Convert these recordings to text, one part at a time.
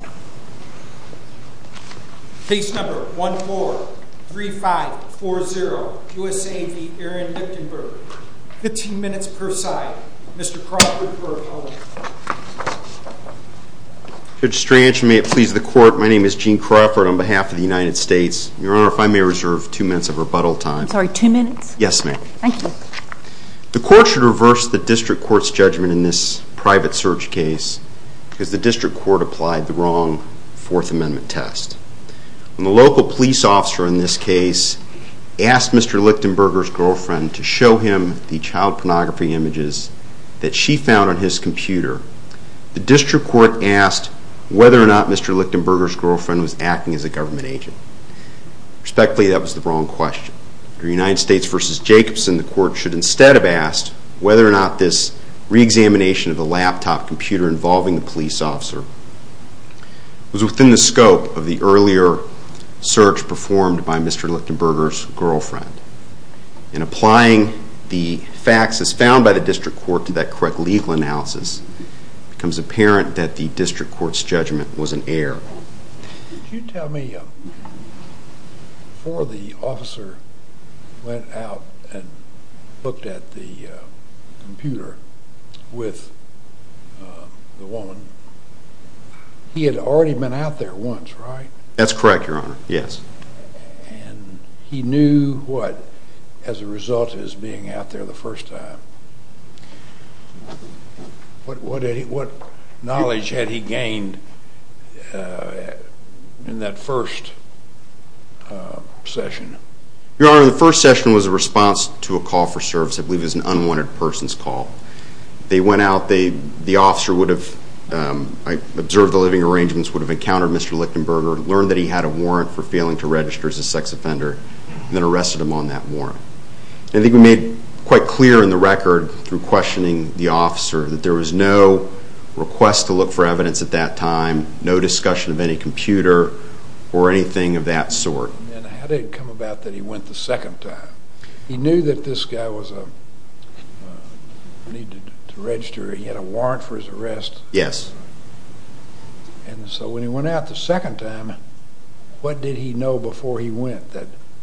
15 minutes per side. Mr. Crawford for a moment. Judge Strange, may it please the Court, my name is Gene Crawford on behalf of the United States. Your Honor, if I may reserve two minutes of rebuttal time. I'm sorry, two minutes? Yes, ma'am. Thank you. The Court should reverse the District Court's judgment in this private search case because the District Court applied the wrong Fourth Amendment test. When the local police officer in this case asked Mr. Lichtenberger's girlfriend to show him the child pornography images that she found on his computer, the District Court asked whether or not Mr. Lichtenberger's girlfriend was acting as a government agent. Respectfully, that was the wrong question. Under United States v. Jacobson, the Court should instead have asked whether or not this reexamination of the laptop computer involving the police officer was within the scope of the earlier search performed by Mr. Lichtenberger's girlfriend. In applying the facts as found by the District Court to that correct legal analysis, it becomes apparent that the District Court's judgment was in error. Could you tell me, before the officer went out and looked at the computer with the woman, he had already been out there once, right? That's correct, Your Honor, yes. And he knew what as a result of his being out there the first time. What knowledge had he gained in that first session? Your Honor, the first session was a response to a call for service, I believe it was an unwanted person's call. They went out, the officer would have, I observed the living arrangements, would have encountered Mr. Lichtenberger, learned that he had a warrant for failing to register as a sex offender, and then arrested him on that warrant. I think we made quite clear in the record through questioning the evidence at that time, no discussion of any computer or anything of that sort. And how did it come about that he went the second time? He knew that this guy was a, needed to register, he had a warrant for his arrest. Yes. And so when he went out the second time, what did he know before he went?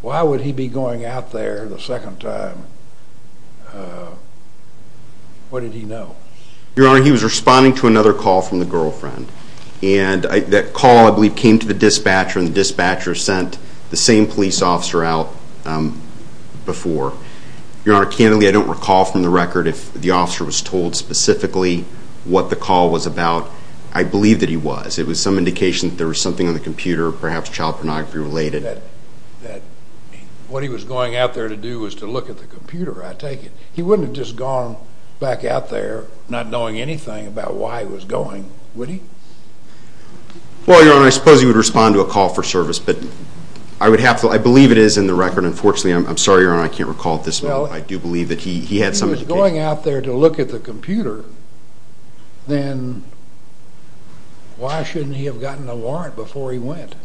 Why would he be going out there the second time? What he was responding to another call from the girlfriend. And that call, I believe, came to the dispatcher and the dispatcher sent the same police officer out before. Your Honor, candidly, I don't recall from the record if the officer was told specifically what the call was about. I believe that he was. It was some indication that there was something on the computer, perhaps child pornography related. That what he was going out there to do was to look at the computer, I take it. He wouldn't have just gone back out there not knowing anything about why he was going, would he? Well, Your Honor, I suppose he would respond to a call for service, but I would have to, I believe it is in the record. Unfortunately, I'm sorry, Your Honor, I can't recall at this moment, but I do believe that he had some indication. If he was going out there to look at the computer, then why shouldn't he have gotten a warrant before he went?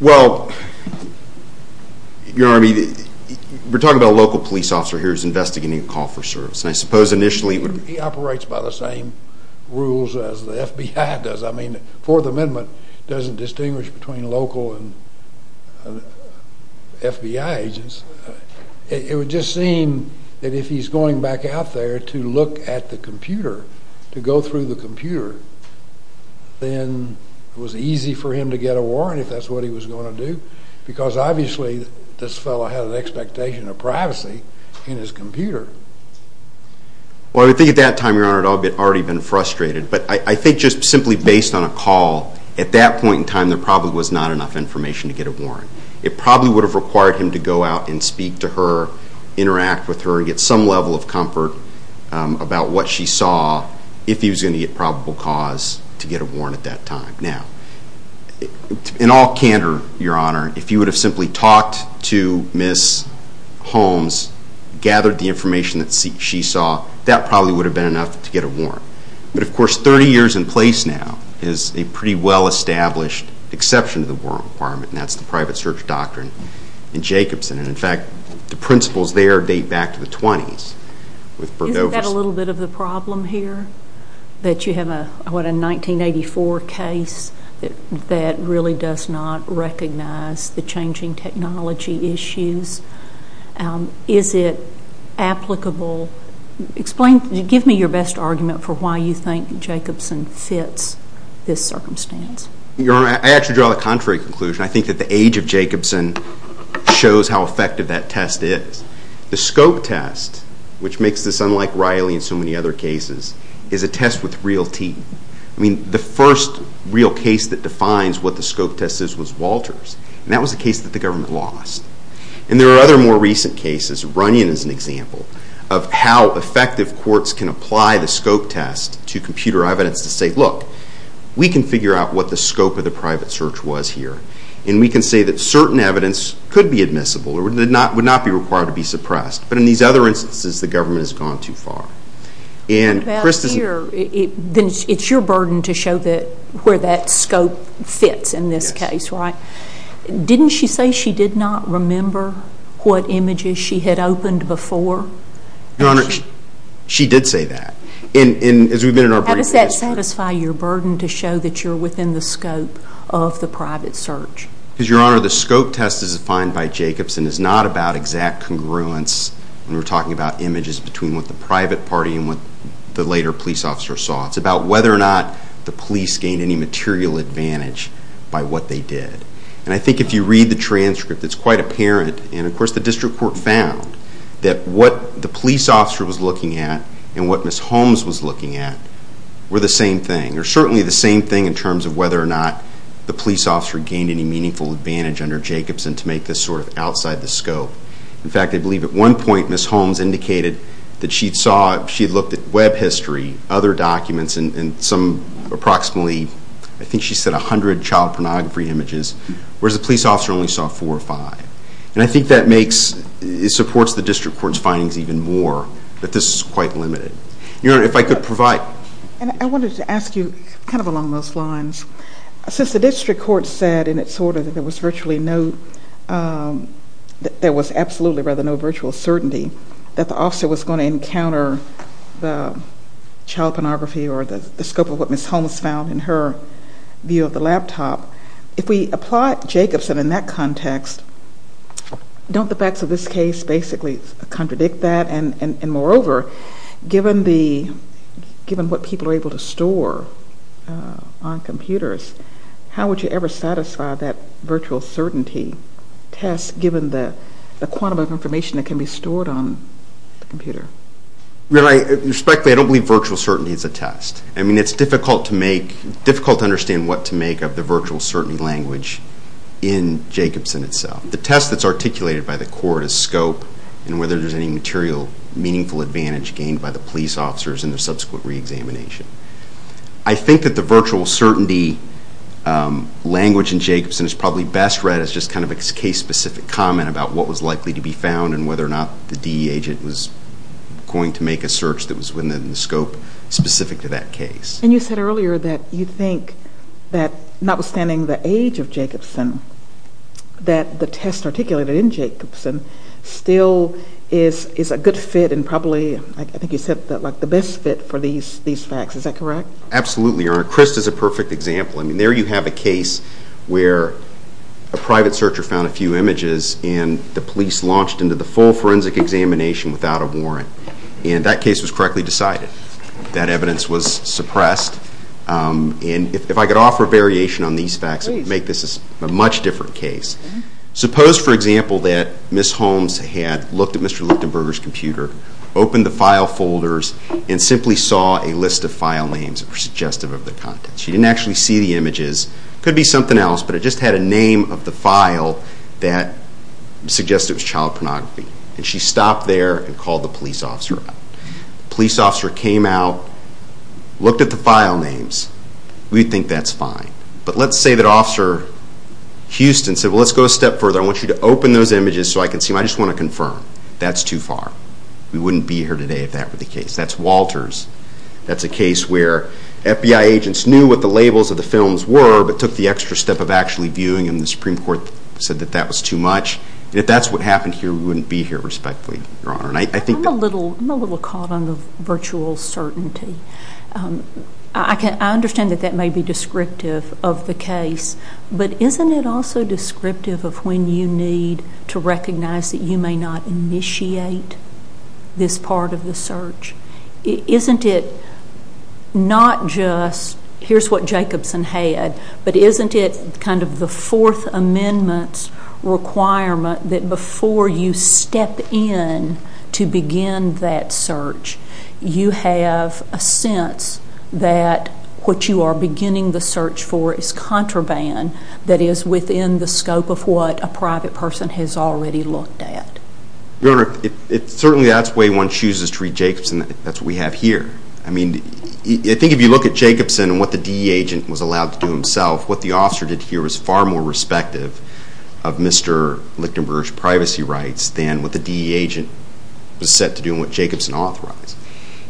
Well, Your Honor, I mean, we're talking about a local police officer here who's investigating a call for service, and I suppose initially it would be... He operates by the same rules as the FBI does. I mean, the Fourth Amendment doesn't distinguish between local and FBI agents. It would just seem that if he's going back out there to look at the computer, to go through the computer, then it was easy for him to get a warrant if that's what he was going to do, because obviously this fellow had an expectation of privacy in his computer. Well, I think at that time, Your Honor, he had already been frustrated, but I think just simply based on a call, at that point in time there probably was not enough information to get a warrant. It probably would have required him to go out and speak to her, interact with her, get some level of comfort about what she saw, if he was going to get probable cause to get a warrant at that time. Now, in all probability, talked to Ms. Holmes, gathered the information that she saw, that probably would have been enough to get a warrant. But, of course, 30 years in place now is a pretty well-established exception to the warrant requirement, and that's the private search doctrine in Jacobson. And, in fact, the principles there date back to the 20s with Bergdorfer's... Isn't that a little bit of the problem here, that you have a, what, a 1984 case that really does not recognize the changing technology issues? Is it applicable? Explain, give me your best argument for why you think Jacobson fits this circumstance. Your Honor, I actually draw the contrary conclusion. I think that the age of Jacobson shows how effective that test is. The scope test, which makes this unlike Riley and so many other cases, is a first real case that defines what the scope test is, was Walters. And that was a case that the government lost. And there are other more recent cases. Runyon is an example of how effective courts can apply the scope test to computer evidence to say, look, we can figure out what the scope of the private search was here. And we can say that certain evidence could be admissible or would not be required to be suppressed. But, in these other instances, the government has gone too far. And Chris... What about here? Then it's your burden to show that, where that scope fits in this case, right? Didn't she say she did not remember what images she had opened before? Your Honor, she did say that. In, in, as we've been in our brief history... How does that satisfy your burden to show that you're within the scope of the private search? Because, Your Honor, the scope test is defined by Jacobson is not about exact congruence when we're talking about images between what the private party and what the later police officer saw. It's about whether or not the police gained any material advantage by what they did. And I think if you read the transcript, it's quite apparent, and of course the district court found, that what the police officer was looking at and what Ms. Holmes was looking at were the same thing. Or certainly the same thing in terms of whether or not the police officer gained any meaningful advantage under Jacobson to make this sort of outside the scope. In fact, I believe at one point Ms. Holmes indicated that she saw, she looked at web history, other documents, and some approximately, I think she said 100 child pornography images, whereas the police officer only saw 4 or 5. And I think that makes, it supports the district court's findings even more, that this is quite limited. Your Honor, if I could provide... And I wanted to ask you, kind of along those lines, since the district court said, and it sort of, there was virtually no, there was absolutely rather no virtual certainty, that the officer was going to encounter the child pornography or the scope of what Ms. Holmes found in her view of the laptop, if we apply Jacobson in that context, don't the facts of this case basically contradict that? And moreover, given the, given what people are able to store on computers, how would you ever satisfy that virtual certainty test given the quantum of information that can be stored on the computer? Your Honor, respectfully, I don't believe virtual certainty is a test. I mean, it's difficult to make, difficult to understand what to make of the virtual certainty language in Jacobson itself. The test that's articulated by the court is scope and whether there's any material meaningful advantage gained by the police officers in their subsequent re-examination. I think that the virtual certainty language in Jacobson is probably best read as just kind of a case-specific comment about what was likely to be found and whether or not the DE agent was going to make a search that was within the scope specific to that case. And you said earlier that you think that notwithstanding the age of Jacobson, that the test articulated in Jacobson still is a good fit and probably, I think you said, the best fit for these facts. Is that correct? Absolutely, Your Honor. Chris is a perfect example. I mean, there you have a case where a private searcher found a few images and the police launched into the full forensic examination without a warrant. And that case was correctly decided. That evidence was suppressed. And if I could offer a variation on these facts, it would make this a much different case. Suppose, for example, that Ms. Holmes had looked at Mr. Lichtenberger's computer, opened the file folders, and simply saw a list of file names that were suggestive of the contents. She didn't actually see the images. It could be something else, but it just had a name of the file that suggested it was child pornography. And she stopped there and called the police officer out. The police officer came out, looked at the file names. We think that's fine. But let's say that Officer Houston said, well, let's go a step further. I want you to open those images so I can see them. I just want to confirm. That's too far. We wouldn't be here today if that were the case. That's Walters. That's a case where FBI agents knew what the labels of the films were, but took the extra step of actually viewing them. The Supreme Court said that that was too much. If that's what happened here, we wouldn't be here respectfully, Your Honor. I'm a little caught on the virtual certainty. I understand that that may be descriptive of the case, but isn't it also descriptive of when you need to recognize that you may not initiate this part of the search? Isn't it not just, here's what Jacobson had, but isn't it kind of the Fourth Amendment's requirement that before you step in to begin that search, you have a sense that what you are beginning the search for is contraband that is within the scope of what a private person has already looked at? Your Honor, certainly that's the way one chooses to read Jacobson. That's what we have here. I mean, I think if you look at Jacobson and what the DE agent was allowed to do himself, what the officer did here was far more respective of Mr. Lichtenberger's privacy rights than what the DE agent was set to do and what Jacobson authorized.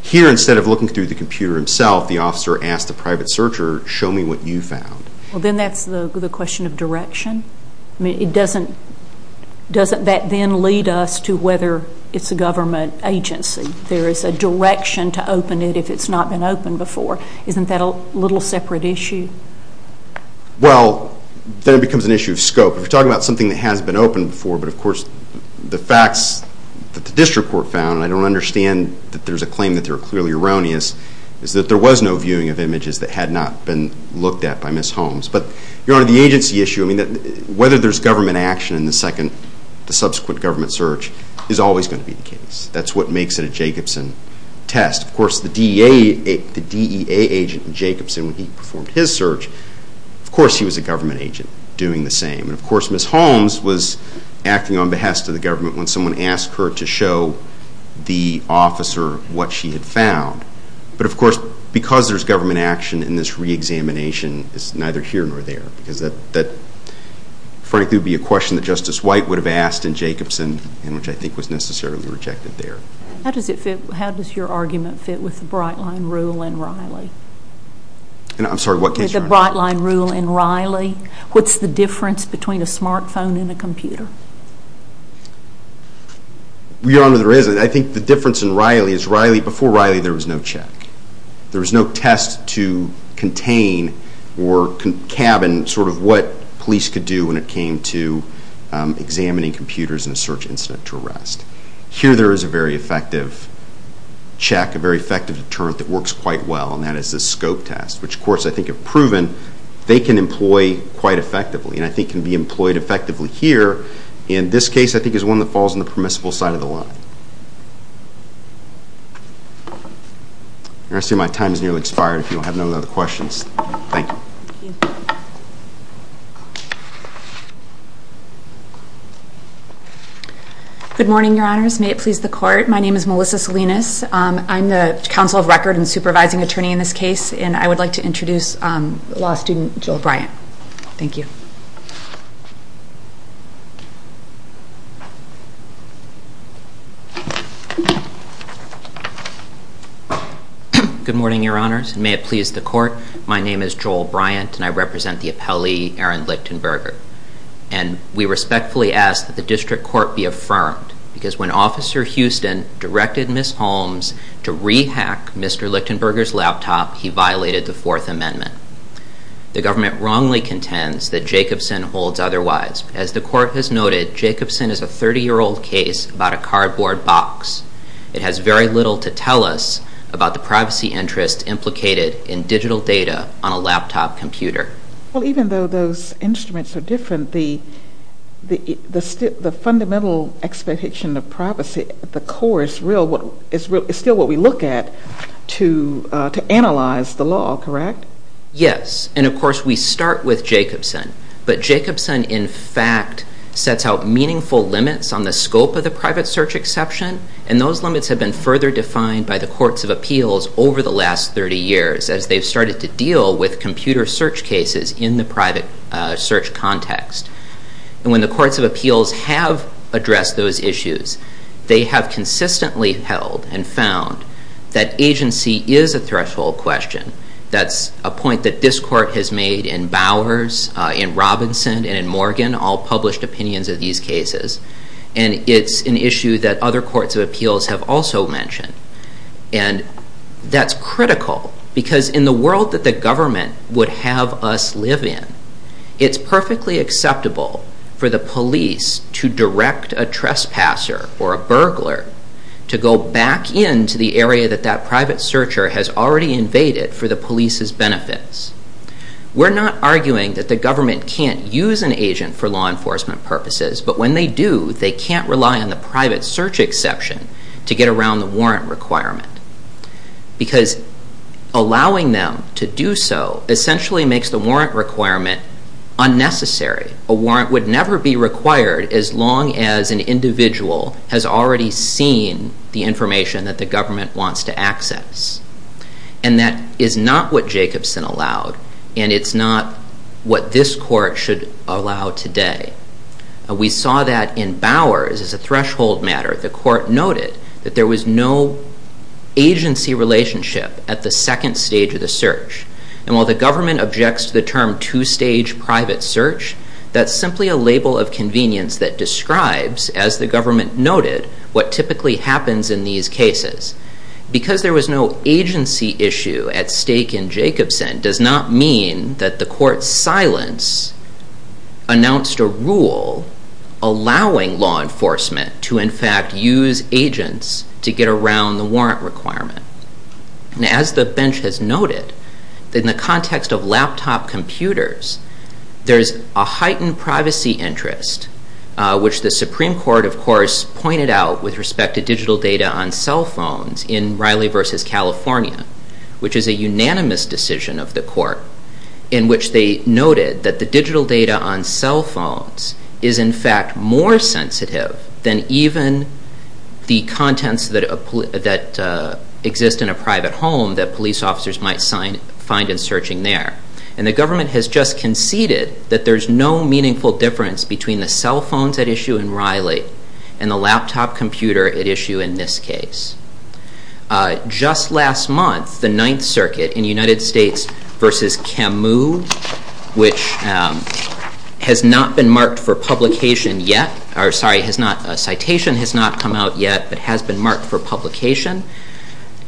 Here, instead of looking through the computer himself, the officer asked the private searcher, show me what you found. Then that's the question of direction. I mean, doesn't that then lead us to whether it's a government agency? There is a direction to open it if it's not been opened before. Isn't that a little separate issue? Well, then it becomes an issue of scope. If you're talking about something that has been opened before, but of course the facts that the district court found, and I don't understand that there's a claim that they're clearly erroneous, is that there was no viewing of Holmes. But, Your Honor, the agency issue, I mean, whether there's government action in the subsequent government search is always going to be the case. That's what makes it a Jacobson test. Of course, the DEA agent in Jacobson, when he performed his search, of course he was a government agent doing the same. And of course, Ms. Holmes was acting on behest of the government when someone asked her to show the officer what she had found. But of course, because there's government action in this re-examination, it's neither here nor there. Because that, frankly, would be a question that Justice White would have asked in Jacobson, and which I think was necessarily rejected there. How does your argument fit with the Bright Line rule in Riley? I'm sorry, what case, Your Honor? The Bright Line rule in Riley. What's the difference between a smart phone and a computer? Your Honor, there is. I think the difference in Riley is, before Riley, there was no check. There was no test to contain or cabin sort of what police could do when it came to examining computers in a search incident to arrest. Here, there is a very effective check, a very effective deterrent that works quite well, and that is the scope test, which courts, I think, have proven they can employ quite effectively, and I think can be employed effectively here. In this case, I think it's one that falls on the permissible side of the line. The rest of my time has nearly expired, if you have no other questions. Thank you. Good morning, Your Honors. May it please the Court, my name is Melissa Salinas. I'm the counsel of record and supervising attorney in this case, and I would like to introduce the law student, Joel Bryant. Thank you. Good morning, Your Honors. May it please the Court, my name is Joel Bryant, and I represent the appellee, Aaron Lichtenberger, and we respectfully ask that the District Court be affirmed, because when Officer Houston directed Ms. Holmes to rehack Mr. Lichtenberger's laptop, he violated the Fourth Amendment. The government wrongly contends that Jacobson holds otherwise. As the Court has noted, Jacobson is a 30-year-old case about a cardboard box. It has very little to tell us about the privacy interest implicated in digital data on a laptop computer. Well, even though those instruments are different, the fundamental expectation of privacy at this point is to analyze the law, correct? Yes, and of course we start with Jacobson, but Jacobson, in fact, sets out meaningful limits on the scope of the private search exception, and those limits have been further defined by the Courts of Appeals over the last 30 years, as they've started to deal with computer search cases in the private search context. And when the Courts of Appeals have addressed those issues, they have consistently held and found that agency is a threshold question. That's a point that this Court has made in Bowers, in Robinson, and in Morgan, all published opinions of these cases, and it's an issue that other Courts of Appeals have also mentioned. And that's critical, because in the world that the government would have us live in, it's perfectly acceptable for the police to direct a trespasser, or a burglar, to go back into the area that that private searcher has already invaded for the police's benefits. We're not arguing that the government can't use an agent for law enforcement purposes, but when they do, they can't rely on the private search exception to get around the warrant requirement. Because allowing them to do so essentially makes the warrant requirement unnecessary. A warrant would never be required as long as an individual has already seen the information that the government wants to access. And that is not what Jacobson allowed, and it's not what this Court should allow today. We saw that in Bowers as a threshold matter. The Court noted that there was no agency relationship at the second stage of the search. And while the government objects to the term two-stage private search, that's simply a label of convenience that describes, as the government noted, what typically happens in these cases. Because there was no agency issue at stake in Jacobson does not mean that the Court's silence announced a rule allowing law enforcement to, in fact, use agents to get around the warrant requirement. And as the bench has noted, in the context of laptop computers, there's a heightened privacy interest, which the Supreme Court, of course, pointed out with respect to digital data on cell phones in Riley v. California, which is a unanimous decision of the Court, in which they noted that the digital data on cell phones is, in fact, more sensitive than even the contents that exist in a private home that police officers might find in searching there. And the government has just conceded that there's no meaningful difference between the cell phones at issue in Riley and the United States v. Camus, which has not been marked for publication yet, or, sorry, has not, a citation has not come out yet, but has been marked for publication,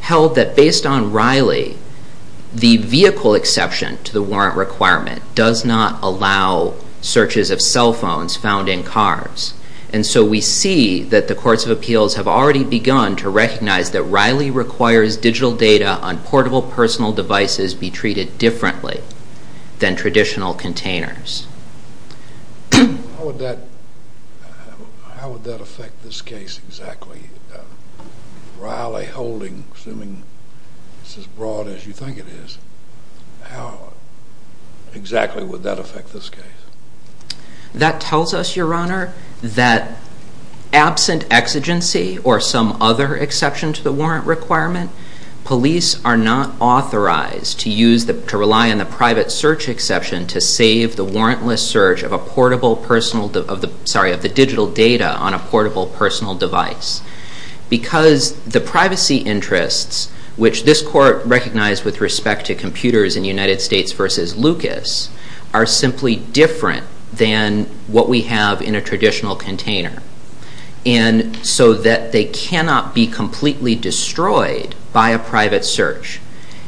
held that based on Riley, the vehicle exception to the warrant requirement does not allow searches of cell phones found in cars. And so we see that the courts of appeals have already begun to recognize that Riley requires digital data on portable personal devices be treated differently than traditional containers. How would that affect this case exactly? Riley holding, assuming it's as broad as you think it is, how exactly would that affect this case? That tells us, Your Honor, that absent exigency or some other exception to the warrant requirement, police are not authorized to use the, to rely on the private search exception to save the warrantless search of a portable personal, of the, sorry, of the digital data on a portable personal device. Because the privacy interests, which this Court recognized with respect to what we have in a traditional container, and so that they cannot be completely destroyed by a private search.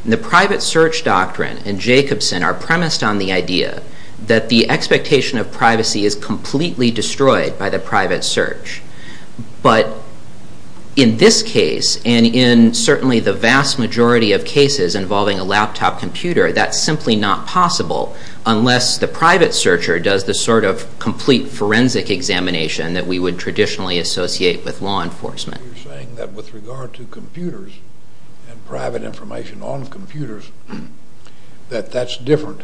The private search doctrine and Jacobson are premised on the idea that the expectation of privacy is completely destroyed by the private search. But in this case, and in certainly the vast majority of cases involving a laptop computer, that's simply not possible unless the private searcher does the sort of complete forensic examination that we would traditionally associate with law enforcement. You're saying that with regard to computers and private information on computers, that that's different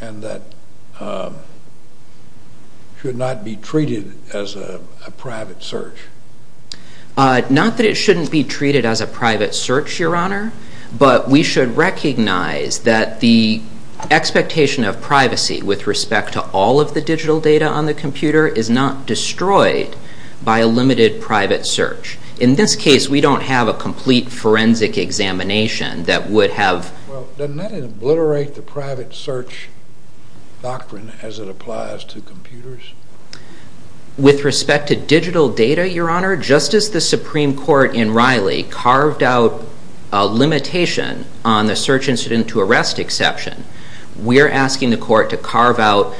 and that should not be treated as a private search. Not that it shouldn't be treated as a private search, Your Honor, but we should recognize that the expectation of privacy with respect to all of the digital data on the computer is not destroyed by a limited private search. In this case, we don't have a complete forensic examination that would have... Well, doesn't that obliterate the private search doctrine as it applies to computers? With respect to digital data, Your Honor, just as the Supreme Court in Riley carved out a limitation on the search incident to arrest exception, we are asking the court to carve out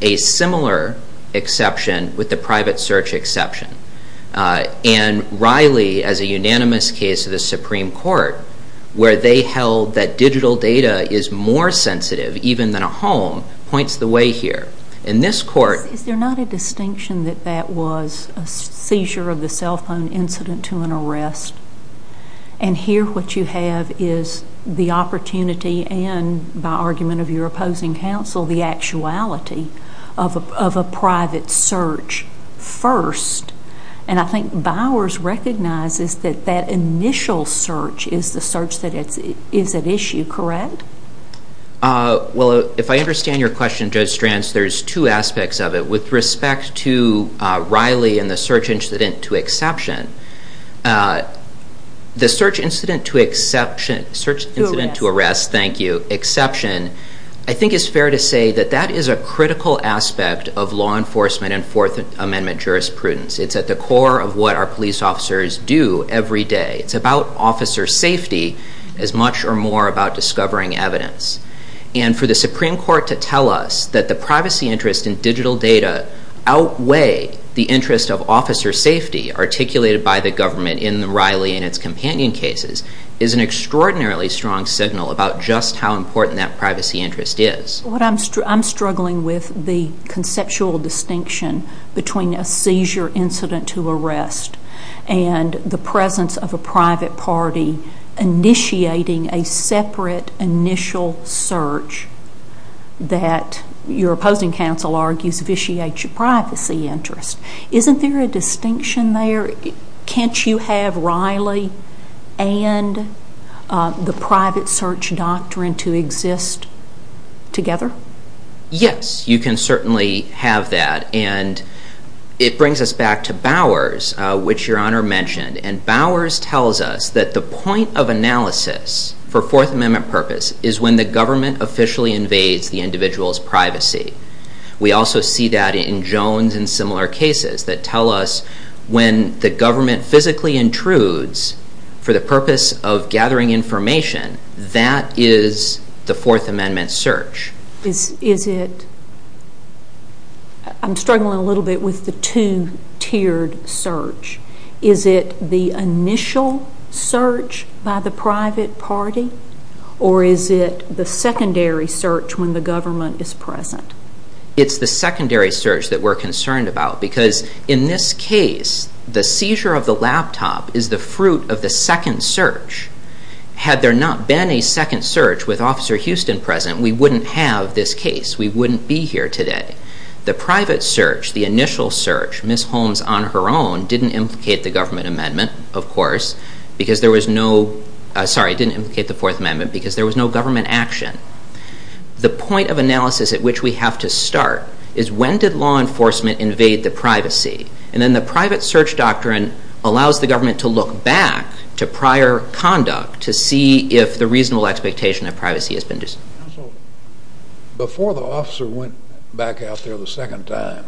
a similar exception with the private search exception. And Riley, as a unanimous case of the Supreme Court, where they held that digital data is more sensitive even than a home, points the way here. In this court... And here what you have is the opportunity and, by argument of your opposing counsel, the actuality of a private search first. And I think Bowers recognizes that that initial search is the search that is at issue, correct? Well, if I understand your question, Judge Stranz, there's two aspects of it. With respect to Riley and the search incident to exception, the search incident to exception... To arrest. Search incident to arrest, thank you, exception, I think it's fair to say that that is a critical aspect of law enforcement and Fourth Amendment jurisprudence. It's at the core of what our police officers do every day. It's about officer safety as much or more about discovering evidence. And for the Supreme Court to tell us that the privacy interest in digital data outweigh the interest of officer safety articulated by the government in Riley and its companion cases is an extraordinarily strong signal about just how important that privacy interest is. I'm struggling with the conceptual distinction between a seizure incident to arrest and the search that your opposing counsel argues vitiates your privacy interest. Isn't there a distinction there? Can't you have Riley and the private search doctrine to exist together? Yes, you can certainly have that. And it brings us back to Bowers, which Your Honor mentioned. And Bowers tells us that the point of analysis for Fourth Amendment purpose is when the government officially invades the individual's privacy. We also see that in Jones and similar cases that tell us when the government physically intrudes for the purpose of gathering information, that is the Fourth Amendment search. I'm struggling a little bit with the two-tiered search. Is it the initial search by the private party or is it the secondary search when the government is present? It's the secondary search that we're concerned about because in this case, the seizure of the laptop is the fruit of the second search. Had there not been a second search with Officer we wouldn't be here today. The private search, the initial search, Ms. Holmes on her own didn't implicate the Fourth Amendment because there was no government action. The point of analysis at which we have to start is when did law enforcement invade the privacy? And then the private search doctrine allows the government to look back to prior conduct to see if the reasonable expectation of privacy has been dispelled. Before the officer went back out there the second time,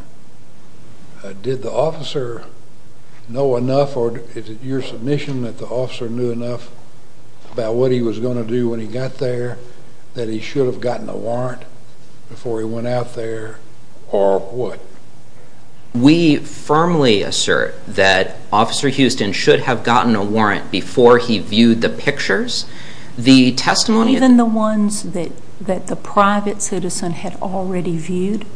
did the officer know enough or is it your submission that the officer knew enough about what he was going to do when he got there that he should have gotten a warrant before he went out there or what? We firmly assert that Officer Houston should have gotten a warrant before he viewed the pictures. Even the ones that the private citizen had already viewed?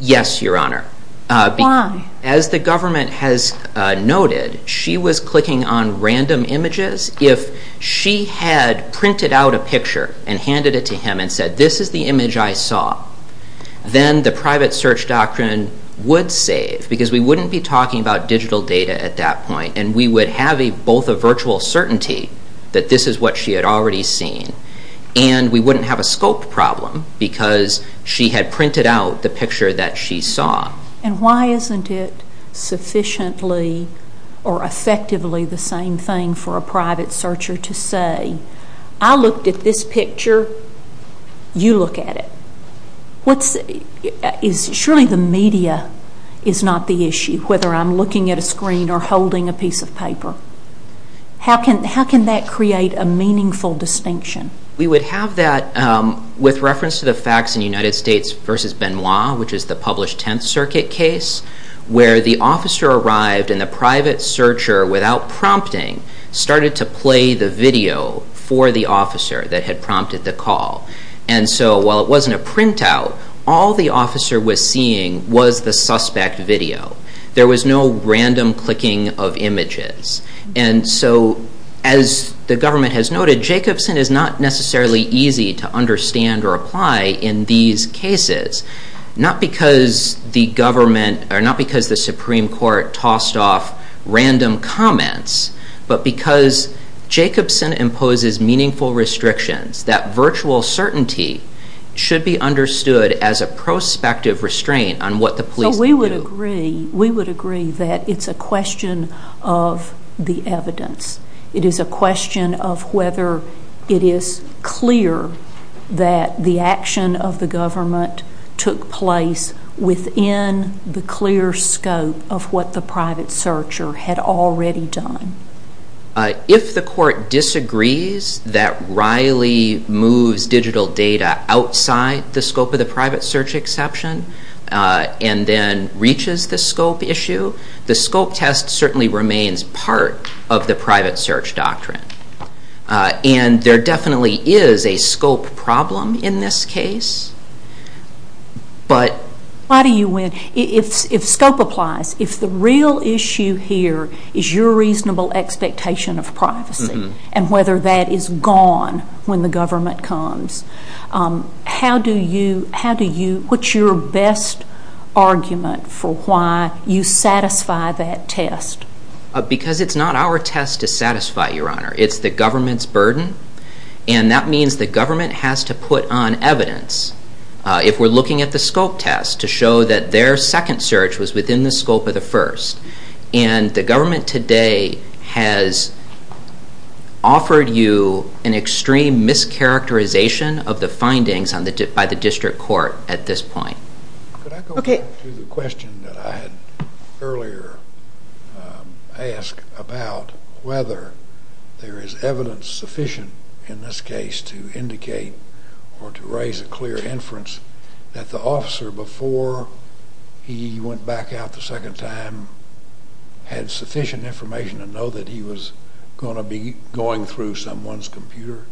Yes, Your Honor. Why? As the government has noted, she was clicking on random images. If she had printed out a picture and handed it to him and said, this is the image I saw, then the private search doctrine would save because we wouldn't be talking about digital data at that point and we would have both a virtual certainty that this is what she had already seen and we wouldn't have a scope problem because she had printed out the picture that she saw. And why isn't it sufficiently or effectively the same thing for a private searcher to say, I looked at this picture, you look at it. Surely the media is not the issue, whether I'm looking at a screen or holding a piece of paper. How can that create a meaningful distinction? We would have that with reference to the facts in United States v. Benoit, which is the published 10th Circuit case, where the officer arrived and the private searcher, without prompting, started to play the video for the officer that had prompted the call. And so while it wasn't a printout, all the officer was seeing was the suspect video. There was no random clicking of images. And so as the government has noted, Jacobson is not necessarily easy to understand or apply in these cases, not because the Supreme Court tossed off random comments, but because Jacobson imposes meaningful restrictions. That virtual certainty should be understood as a prospective restraint on what the police can do. So we would agree that it's a question of the evidence. It is a question of whether it is clear that the action of the government took place within the clear scope of what the private searcher had already done. If the court disagrees that Riley moves digital data outside the scope of the private search exception and then reaches the scope issue, the scope test certainly remains part of the private search doctrine. And there definitely is a scope problem in this case. Why do you win? If scope applies, if the real issue here is your reasonable expectation of privacy and whether that is gone when the government comes, how do you put your best argument for why you satisfy that test? Because it's not our test to satisfy, Your Honor. It's the government's burden. And that means the government has to put on evidence, if we're looking at the scope test, to show that their second search was within the scope of the first. And the government today has offered you an extreme mischaracterization of the findings by the district court at this point. Could I go back to the question that I had earlier asked about whether there is evidence sufficient in this case to indicate or to raise a clear inference that the officer, before he went back out the second time, had sufficient information to know that he was going to be going through someone's computer?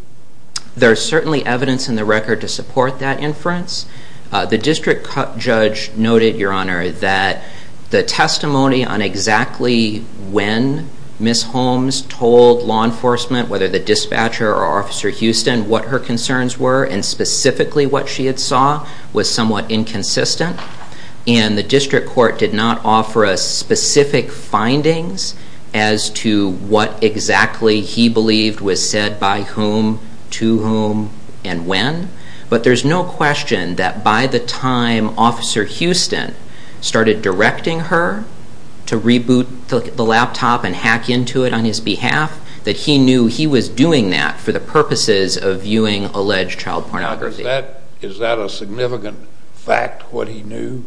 There is certainly evidence in the record to support that inference. The district judge noted, Your Honor, that the testimony on exactly when Ms. Holmes told law enforcement, whether the dispatcher or Officer Houston, what her concerns were and specifically what she had saw, was somewhat inconsistent. And the district court did not offer us specific findings as to what exactly he believed was said by whom, to whom, and when. But there's no question that by the time Officer Houston started directing her to reboot the laptop and hack into it on his behalf, that he knew he was doing that for the purposes of viewing alleged child pornography. Is that a significant fact, what he knew,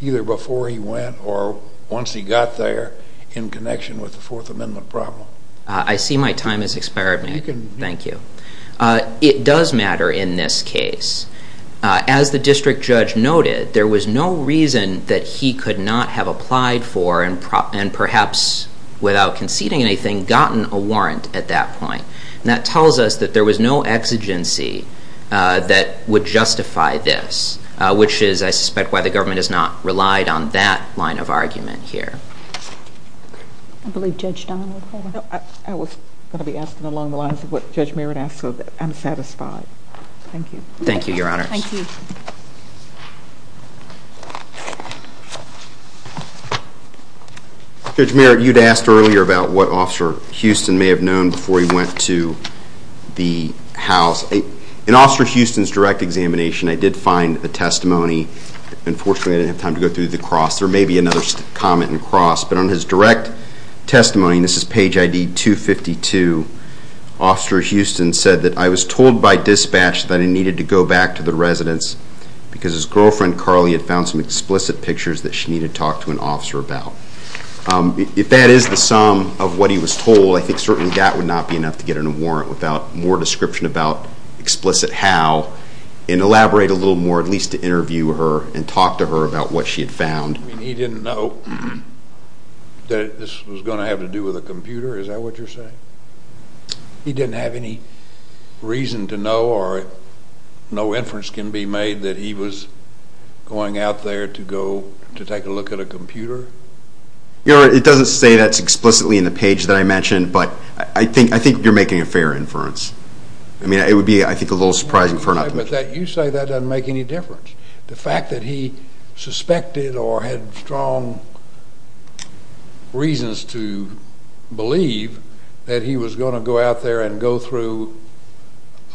either before he went or once he got there, in connection with the Fourth Amendment problem? I see my time has expired. Thank you. It does matter in this case. As the district judge noted, there was no reason that he could not have applied for and perhaps, without conceding anything, gotten a warrant at that point. And that tells us that there was no exigency that would justify this, which is, I suspect, why the government has not relied on that line of argument here. I believe Judge Don will follow. I was going to be asking along the lines of what Judge Merritt asked, so I'm satisfied. Thank you. Thank you, Your Honors. Thank you. Judge Merritt, you'd asked earlier about what Officer Houston may have known before he went to the house. In Officer Houston's direct examination, I did find a testimony. Unfortunately, I didn't have time to go through the cross. There may be another comment in cross. But on his direct testimony, and this is page ID 252, Officer Houston said that, I was told by dispatch that he needed to go back to the residence because his girlfriend, Carly, had found some explicit pictures that she needed to talk to an officer about. If that is the sum of what he was told, I think certainly that would not be enough to get him a warrant without more description about explicit how, and elaborate a little more, at least to interview her and talk to her about what she had found. He didn't know that this was going to have to do with a computer? Is that what you're saying? He didn't have any reason to know, or no inference can be made, that he was going out there to go to take a look at a computer? Your Honor, it doesn't say that explicitly in the page that I mentioned, but I think you're making a fair inference. I mean, it would be, I think, a little surprising for an optimist. But you say that doesn't make any difference. The fact that he suspected or had strong reasons to believe that he was going to go out there and go through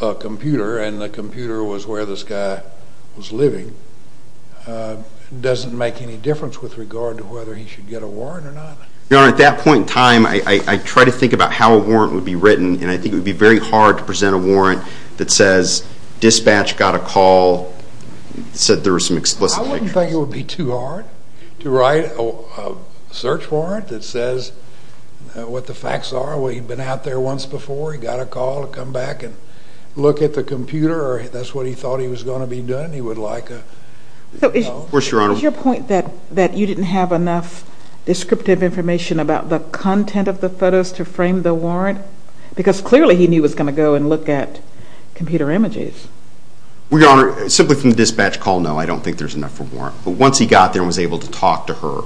a computer, and the computer was where this guy was living, doesn't make any difference with regard to whether he should get a warrant or not. Your Honor, at that point in time, I try to think about how a warrant would be written, and I think it would be very hard to present a warrant that says, dispatch got a call, said there were some explicit pictures. I wouldn't think it would be too hard to write a search warrant that says what the facts are. Well, he'd been out there once before. He got a call to come back and look at the computer, or that's what he thought he was going to be doing. He would like a, you know. Of course, Your Honor. Is your point that you didn't have enough descriptive information about the content of the photos to frame the warrant? Because clearly he knew he was going to go and look at computer images. Well, Your Honor, simply from the dispatch call, no, I don't think there's enough for a warrant. But once he got there and was able to talk to her,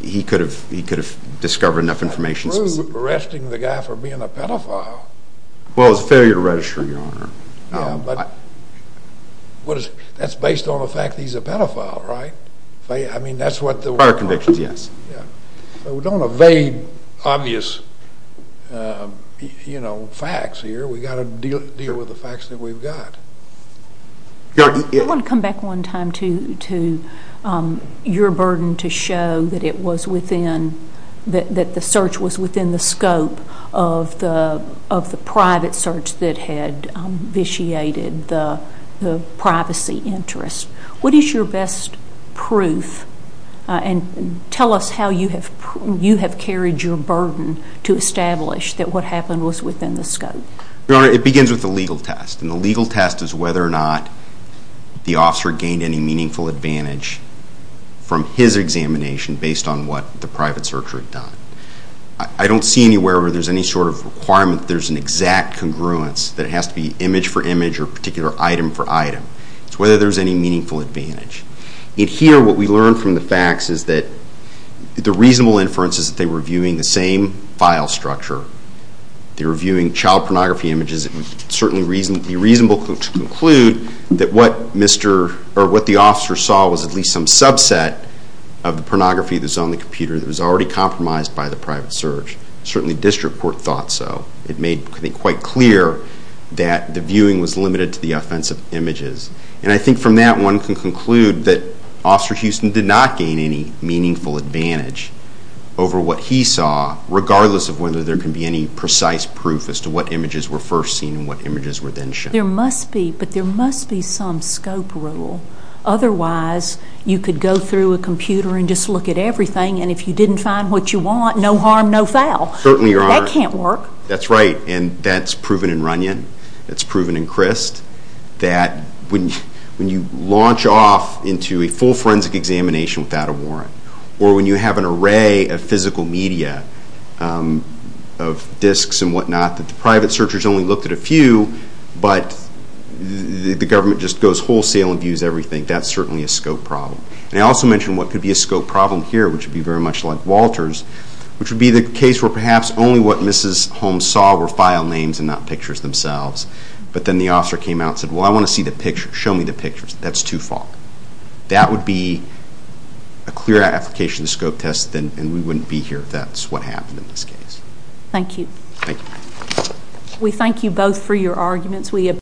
he could have discovered enough information. Approved arresting the guy for being a pedophile. Well, it was a failure to register, Your Honor. Yeah, but that's based on the fact that he's a pedophile, right? I mean, that's what the warrant was. Prior convictions, yes. We don't evade obvious, you know, facts here. We've got to deal with the facts that we've got. I want to come back one time to your burden to show that it was within, that the search was within the scope of the private search that had vitiated the privacy interest. What is your best proof? And tell us how you have carried your burden to establish that what happened was within the scope. Your Honor, it begins with the legal test. And the legal test is whether or not the officer gained any meaningful advantage from his examination based on what the private searcher had done. I don't see anywhere where there's any sort of requirement that there's an exact congruence, It's whether there's any meaningful advantage. And here what we learn from the facts is that the reasonable inference is that they were viewing the same file structure. They were viewing child pornography images. It would certainly be reasonable to conclude that what the officer saw was at least some subset of the pornography that was on the computer that was already compromised by the private search. Certainly district court thought so. It made quite clear that the viewing was limited to the offensive images. And I think from that one can conclude that Officer Houston did not gain any meaningful advantage over what he saw, regardless of whether there can be any precise proof as to what images were first seen and what images were then shown. There must be, but there must be some scope rule. Otherwise, you could go through a computer and just look at everything, and if you didn't find what you want, no harm, no foul. Certainly, Your Honor. That can't work. That's right, and that's proven in Runyon. That's proven in Crist. That when you launch off into a full forensic examination without a warrant, or when you have an array of physical media, of disks and whatnot, that the private searchers only looked at a few, but the government just goes wholesale and views everything, that's certainly a scope problem. And I also mentioned what could be a scope problem here, which would be very much like Walter's, which would be the case where perhaps only what Mrs. Holmes saw were file names and not pictures themselves, but then the officer came out and said, well, I want to see the pictures, show me the pictures, that's too far. That would be a clear application of the scope test, and we wouldn't be here if that's what happened in this case. Thank you. Thank you. We thank you both for your arguments.